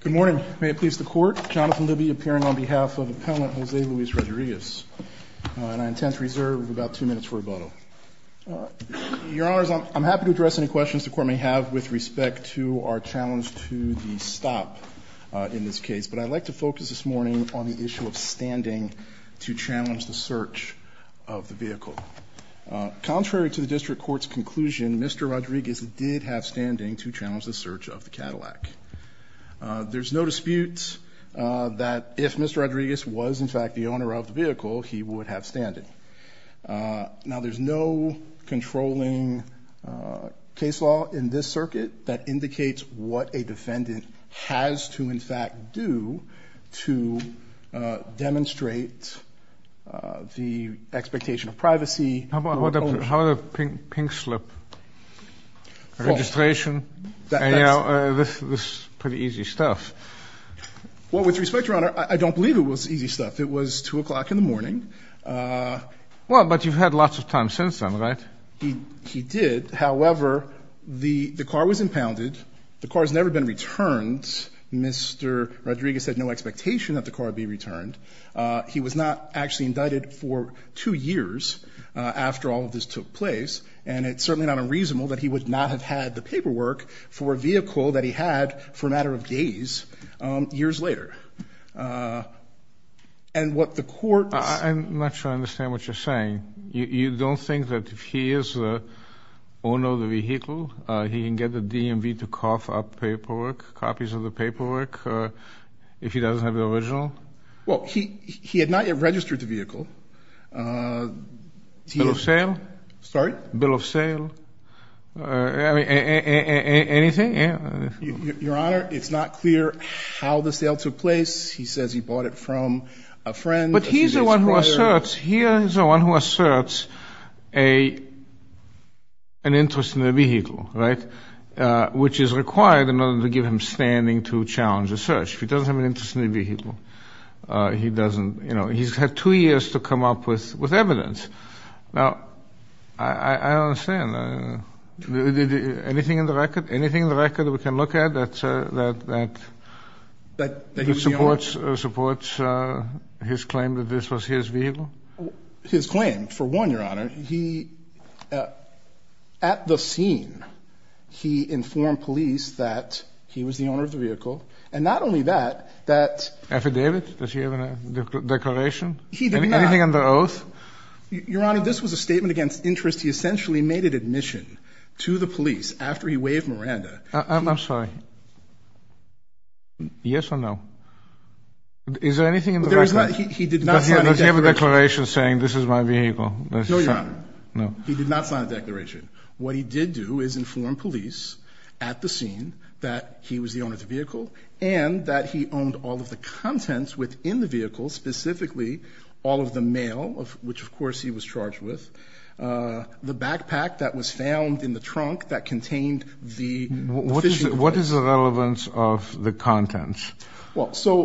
Good morning. May it please the court, Jonathan Libby appearing on behalf of appellant Jose Luis Rodriguez and I intend to reserve about two minutes for rebuttal. Your honors, I'm happy to address any questions the court may have with respect to our challenge to the stop in this case, but I'd like to focus this morning on the issue of standing to challenge the search of the vehicle. Contrary to the district court's conclusion, Mr. Rodriguez did have standing to challenge the search of the Cadillac. There's no dispute that if Mr. Rodriguez was in fact the owner of the vehicle, he would have standing. Now there's no controlling case law in this circuit that indicates what a defendant has to in fact do to demonstrate the expectation of privacy. How about a pink slip registration? You know, this is pretty easy stuff. Well, with respect, your honor, I don't believe it was easy stuff. It was two o'clock in the morning. Well, but you've had lots of time since then, right? He did. However, the the car was impounded. The car has never been returned. Mr. Rodriguez had no expectation that the car be returned. He was not actually indicted for two years after all of this took place, and it's certainly not unreasonable that he would not have had the paperwork for a vehicle that he had for a matter of days years later. And what the court... I'm not sure I understand what you're saying. You don't think that if he is the owner of the vehicle, he can get the DMV to cough up paperwork, copies of the paperwork, if he doesn't have the original? Well, he had not yet registered the vehicle. Bill of sale? Sorry? Bill of sale? Anything? Your honor, it's not clear how the sale took place. He says he bought it from a friend. But he's the one who asserts, he is the one who asserts an interest in the vehicle, right, which is required in order to give him standing to challenge a search. If he doesn't have an interest in the vehicle, he doesn't, you know, he's had two years to come up with with evidence. Now, I don't understand. Anything in the record? Anything in the record that we can look at that supports his claim that this was his vehicle? His claim, for one, your honor, at the scene, he informed police that he was the owner of the vehicle. And not only that, that... Affidavit? Does he have a declaration? Anything under oath? Your honor, this was a statement against interest. He essentially made it admission to the police after he waived Miranda. I'm sorry. Yes or no? Is there anything in the record? He did not sign a declaration. Does he have a declaration saying this is my vehicle? No, your honor. No. He did not sign a declaration. What he did do is inform police at the scene that he was the owner of the vehicle and that he owned all of the contents within the vehicle, specifically all of the mail, which of course he was charged with, the backpack that was found in the trunk that contained the... What is the relevance of the contents? Well, so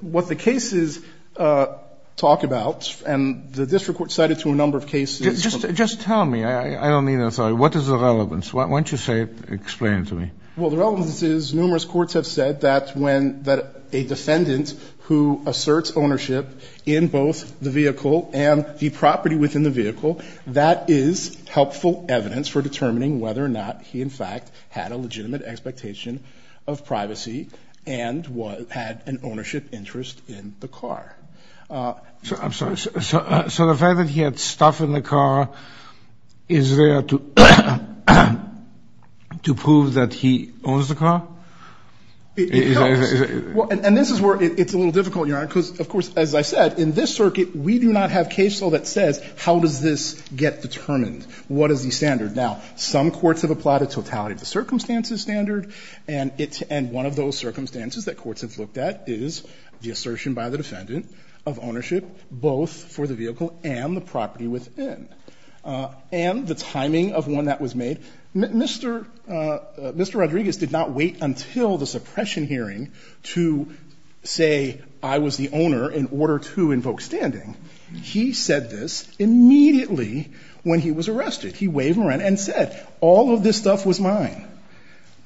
what the cases talk about, and the district court cited to a number of cases... Just tell me, I don't mean... I'm sorry. What is the relevance? Why don't you say it, explain it to me. Well, the relevance is numerous courts have said that when... that a defendant who asserts ownership in both the vehicle and the property within the vehicle, that is helpful evidence for determining whether or not he in fact had a legitimate expectation of privacy and had an ownership interest in the car. So I'm sorry. So the fact that he had stuff in the car is there to prove that he owns the car? It helps. And this is where it's a little difficult, your honor, because of course, as I said, in this circuit, we do not have case law that says how does this get determined? What is the standard? Now, some courts have applied a totality of the circumstances standard, and one of those circumstances that courts have looked at is the assertion by the defendant of ownership, both for the vehicle and the property within, and the timing of one that was made. Mr. Rodriguez did not wait until the suppression hearing to say, I was the owner in order to invoke standing. He said this immediately when he was arrested. He waved and said, all of this stuff was mine.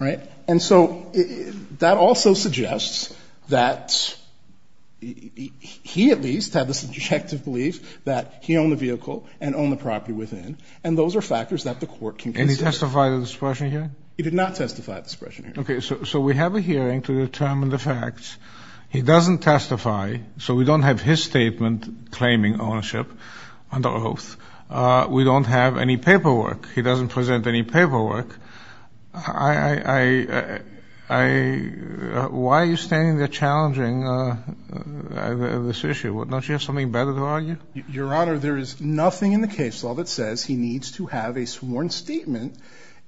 Right? And so that was his assertion. That also suggests that he at least had this objective belief that he owned the vehicle and owned the property within, and those are factors that the court can consider. And he testified at the suppression hearing? He did not testify at the suppression hearing. Okay. So we have a hearing to determine the facts. He doesn't testify, so we don't have his statement claiming ownership under oath. We don't have any paperwork. He doesn't present any Why are you standing there challenging this issue? Don't you have something better to argue? Your Honor, there is nothing in the case law that says he needs to have a sworn statement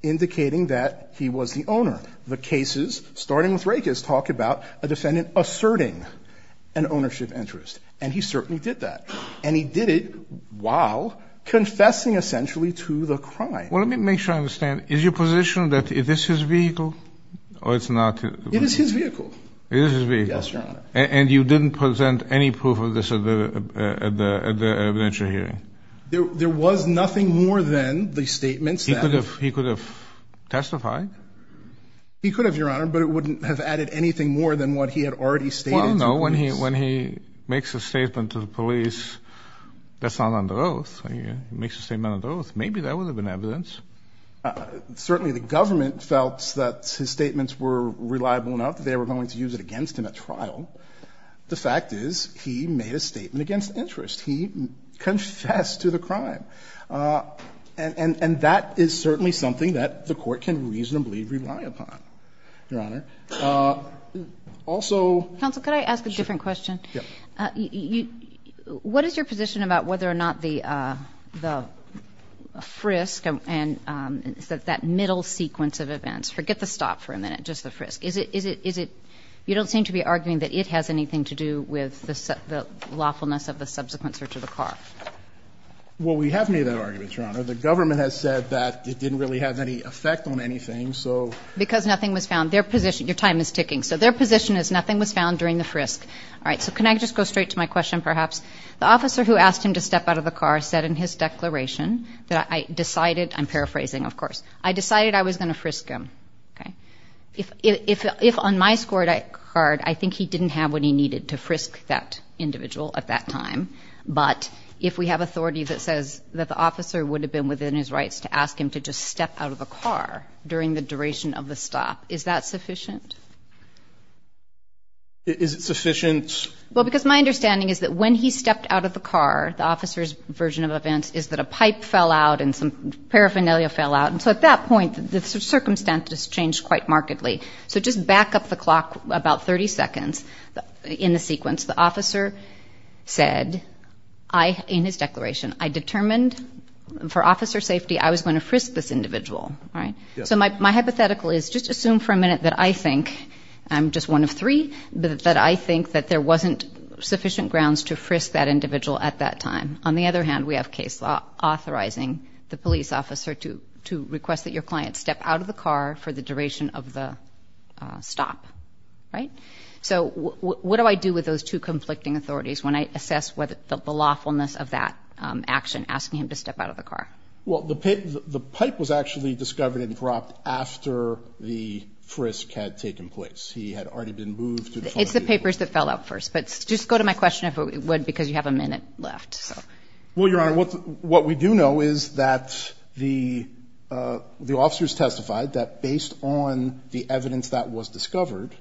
indicating that he was the owner. The cases, starting with Rakes, talk about a defendant asserting an ownership interest, and he certainly did that. And he did it while confessing essentially to the crime. Well, let me make sure I understand. Is your position that this is his vehicle, or it's not? It is his vehicle. It is his vehicle. Yes, Your Honor. And you didn't present any proof of this at the evidentiary hearing? There was nothing more than the statements that he He could have testified? He could have, Your Honor, but it wouldn't have added anything more than what he had already stated to the police. Well, no, when he makes a statement to the police, that's not under oath. He makes a statement under oath. Maybe that would have been evidence. Certainly the government felt that his statements were reliable enough that they were going to use it against him at trial. The fact is, he made a statement against interest. He confessed to the crime. And that is certainly something that the Court can reasonably rely upon, Your Honor. Also... Counsel, could I ask a different question? Sure. What is your position about whether or not the frisk and that middle sequence of events, forget the stop for a minute, just the frisk, is it – you don't seem to be arguing that it has anything to do with the lawfulness of the subsequent search of the car? Well, we have made that argument, Your Honor. The government has said that it didn't really have any effect on anything, so... Because nothing was found. Their position – your time is ticking – so their position is nothing was found during the frisk. All right. So can I just go straight to my question, perhaps? The officer who asked him to step out of the car said in his declaration that I decided – I'm paraphrasing, of course – I decided I was going to frisk him, okay? If on my scorecard, I think he didn't have what he needed to frisk that individual at that time, but if we have authority that says that the officer would have been within his rights to ask him to just step out of the car during the duration of the stop, is that sufficient? Is it sufficient? Well, because my understanding is that when he stepped out of the car, the officer's version of events is that a pipe fell out and some paraphernalia fell out, and so at that point, the circumstance has changed quite markedly. So just back up the clock about 30 seconds in the sequence, the officer said in his declaration, I determined for officer safety I was going to frisk this individual, all right? So my hypothetical is just assume for a minute that I think – I'm just one of three – that I think that there wasn't sufficient grounds to frisk that individual at that time. On the other hand, we have case law authorizing the police officer to request that your client step out of the car for the So what do I do with those two conflicting authorities when I assess the lawfulness of that action, asking him to step out of the car? Well, the pipe was actually discovered and dropped after the frisk had taken place. He had already been moved to the front of the vehicle. It's the papers that fell out first, but just go to my question if it would, because you have a minute left. Well, Your Honor, what we do know is that the officers testified that based on the evidence that was discovered,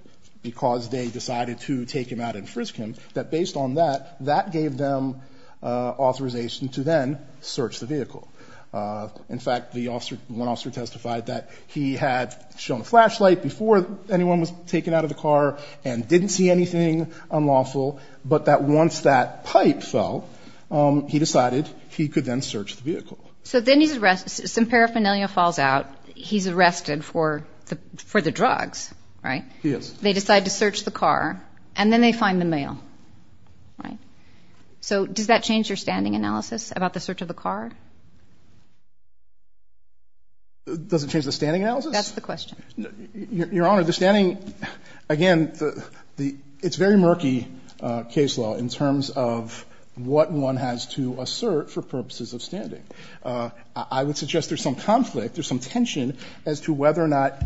because they decided to take him out and frisk him, that based on that, that gave them authorization to then search the vehicle. In fact, the officer – one officer testified that he had shown a flashlight before anyone was taken out of the car and didn't see anything unlawful, but that once that pipe fell, he decided he could then search the vehicle. So then he's arrested, some paraphernalia falls out, he's arrested for the drugs, right? He is. They decide to search the car, and then they find the mail, right? So does that change your standing analysis about the search of the car? Does it change the standing analysis? That's the question. Your Honor, the standing – again, it's very murky case law in terms of what one has to assert for purposes of standing. I would suggest there's some conflict, there's some tension as to whether or not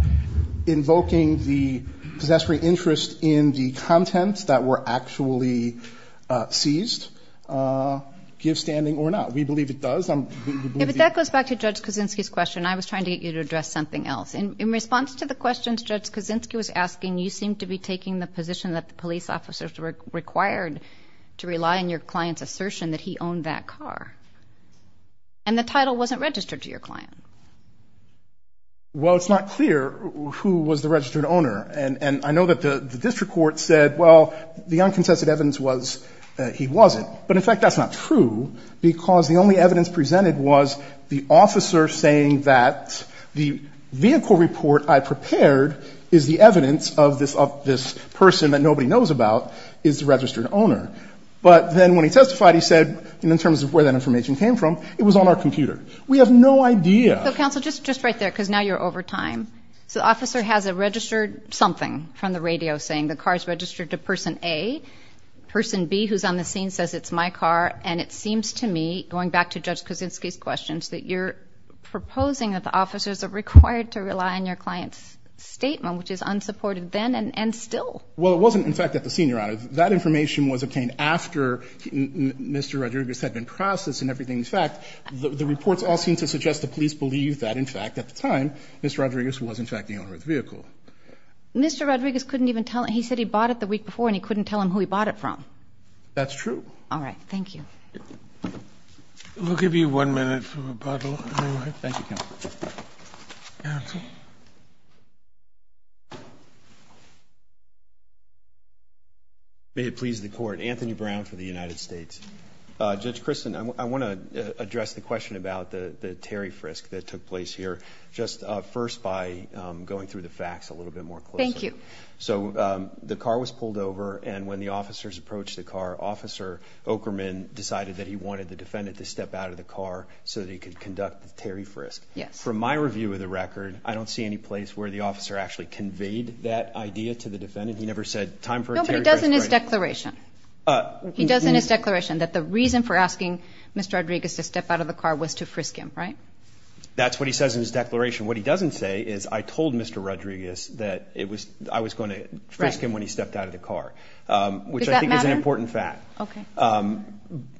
invoking the possessory interest in the contents that were actually seized gives standing or not. We believe it does. If that goes back to Judge Kaczynski's question, I was trying to get you to address something else. In response to the questions Judge Kaczynski was asking, you seem to be taking the position that the police officers were required to rely on your client's ownership in that car, and the title wasn't registered to your client. Well, it's not clear who was the registered owner. And I know that the district court said, well, the unconsensual evidence was that he wasn't. But in fact, that's not true, because the only evidence presented was the officer saying that the vehicle report I prepared is the evidence of this person that nobody knows about is the car. And when he testified, he said, in terms of where that information came from, it was on our computer. We have no idea. So, counsel, just right there, because now you're over time. So the officer has a registered something from the radio saying the car is registered to person A. Person B, who's on the scene, says it's my car. And it seems to me, going back to Judge Kaczynski's questions, that you're proposing that the officers are required to rely on your client's statement, which is unsupported then and still. Well, it wasn't, in fact, at the scene, Your Honor. That information was obtained after Mr. Rodriguez had been processed and everything. In fact, the reports all seem to suggest the police believe that, in fact, at the time, Mr. Rodriguez was, in fact, the owner of the vehicle. Mr. Rodriguez couldn't even tell him. He said he bought it the week before, and he couldn't tell him who he bought it from. That's true. All right. Thank you. We'll give you one minute for rebuttal. Thank you, counsel. Counsel? May it please the Court. Anthony Brown for the United States. Judge Christin, I want to address the question about the Terry frisk that took place here, just first by going through the facts a little bit more closely. Thank you. So, the car was pulled over, and when the officers approached the car, Officer Oakerman decided that he wanted the defendant to step out of the car so that he could conduct the frisk. From my review of the record, I don't see any place where the officer actually conveyed that idea to the defendant. He never said, time for a Terry frisk. No, but he does in his declaration. He does in his declaration that the reason for asking Mr. Rodriguez to step out of the car was to frisk him, right? That's what he says in his declaration. What he doesn't say is, I told Mr. Rodriguez that I was going to frisk him when he stepped out of the car. Does that matter? Which I think is an important fact. Okay.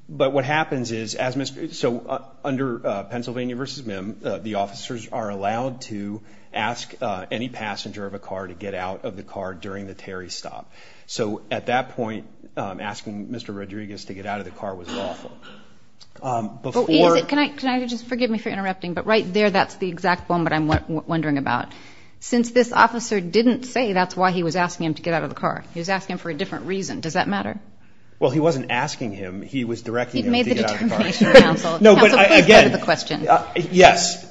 But what happens is, under Pennsylvania v. MIM, the officers are allowed to ask any passenger of a car to get out of the car during the Terry stop. So, at that point, asking Mr. Rodriguez to get out of the car was lawful. Can I just, forgive me for interrupting, but right there, that's the exact one that I'm wondering about. Since this officer didn't say that's why he was asking him to get out of the car, he was asking him for a different reason. Does that matter? Well, he wasn't asking him. He was directing him to get out of the car. You've made the determination, Counsel. Counsel, please go to the question. Yes.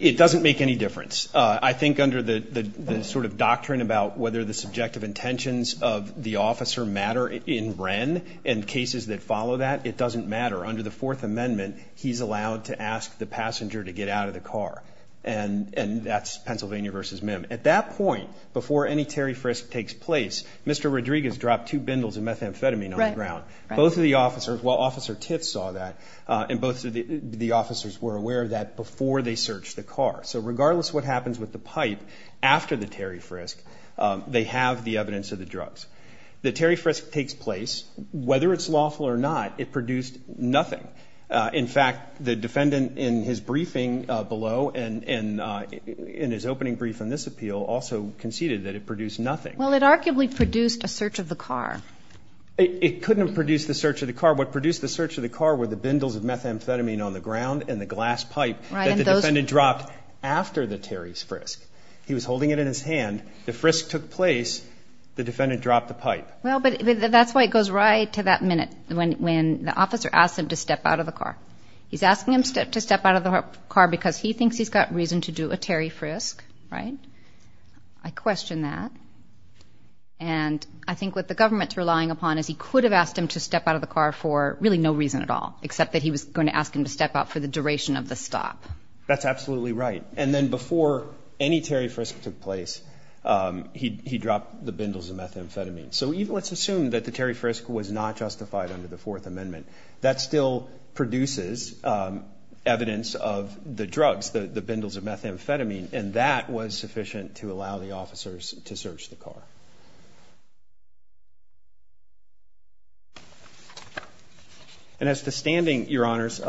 It doesn't make any difference. I think under the sort of doctrine about whether the subjective intentions of the officer matter in Wren and cases that follow that, it doesn't matter. Under the Fourth Amendment, he's allowed to ask the passenger to get out of the car. And that's Pennsylvania v. MIM. At that point, before any Terry frisk takes place, Mr. Rodriguez dropped two bindles of methamphetamine on the ground. Both of the officers, well, Officer Tiff saw that, and both of the officers were aware of that before they searched the car. So, regardless of what happens with the pipe after the Terry frisk, they have the evidence of the drugs. The Terry frisk takes place. Whether it's lawful or not, it produced nothing. In fact, the defendant in his briefing below and in his opening brief in this appeal also conceded that it produced nothing. Well, it arguably produced a search of the car. It couldn't have produced the search of the car. What produced the search of the car were the bindles of methamphetamine on the ground and the glass pipe that the defendant dropped after the Terry's frisk. He was holding it in his hand. The frisk took place. The defendant dropped the pipe. Well, but that's why it goes right to that minute when the officer asked him to step out of the car. He's asking him to step out of the car because he thinks he's got reason to do a Terry frisk, right? I question that. And I think what the government's relying upon is he could have asked him to step out of the car for really no reason at all, except that he was going to ask him to step out for the duration of the stop. That's absolutely right. And then before any Terry frisk took place, he dropped the bindles of methamphetamine. So let's assume that the Terry frisk was not justified under the Fourth Amendment. That still produces evidence of the drugs, the bindles of methamphetamine, and that was sufficient to allow the officers to search the car. And as to standing, Your Honors,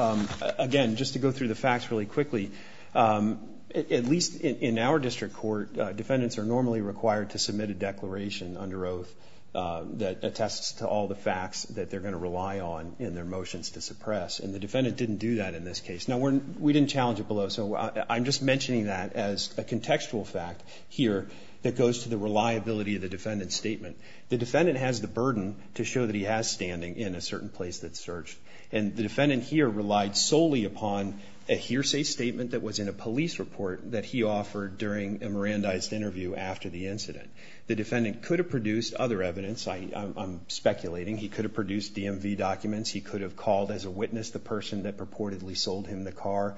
again, just to go through the facts really quickly, at least in our district court, defendants are normally required to submit a declaration under oath that attests to all the facts that they're going to rely on in their motions to suppress, and the defendant didn't do that in this case. Now, we didn't challenge it below, so I'm just mentioning that as a contextual fact here that goes to the reliability of the defendant's statement. The defendant has the burden to show that he has standing in a certain place that's searched, and the defendant here relied solely upon a hearsay statement that was in a police report that he offered during a Mirandized interview after the incident. The defendant could have produced other evidence. I'm speculating he could have produced DMV documents. He could have called as a witness the person that purportedly sold him the car.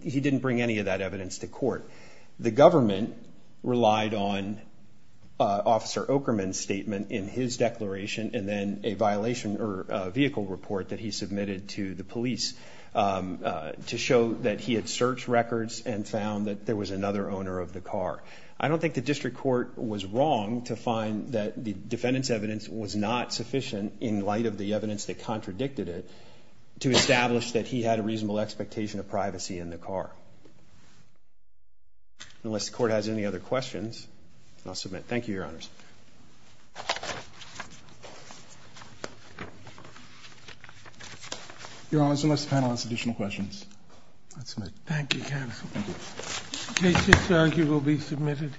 He didn't bring any of that evidence to court. The government relied on Officer Okerman's statement in his declaration, and then a violation or vehicle report that he submitted to the police to show that he had searched records and found that there was another owner of the car. I don't think the district court was wrong to find that the defendant's evidence was not sufficient in light of the evidence that contradicted it to establish that he had a reasonable expectation of privacy in the car. Unless the court has any other questions, I'll submit. Thank you, Your Honors. Your Honors, unless the panel has additional questions, I'll submit. Thank you, counsel. The case is served. It will be submitted.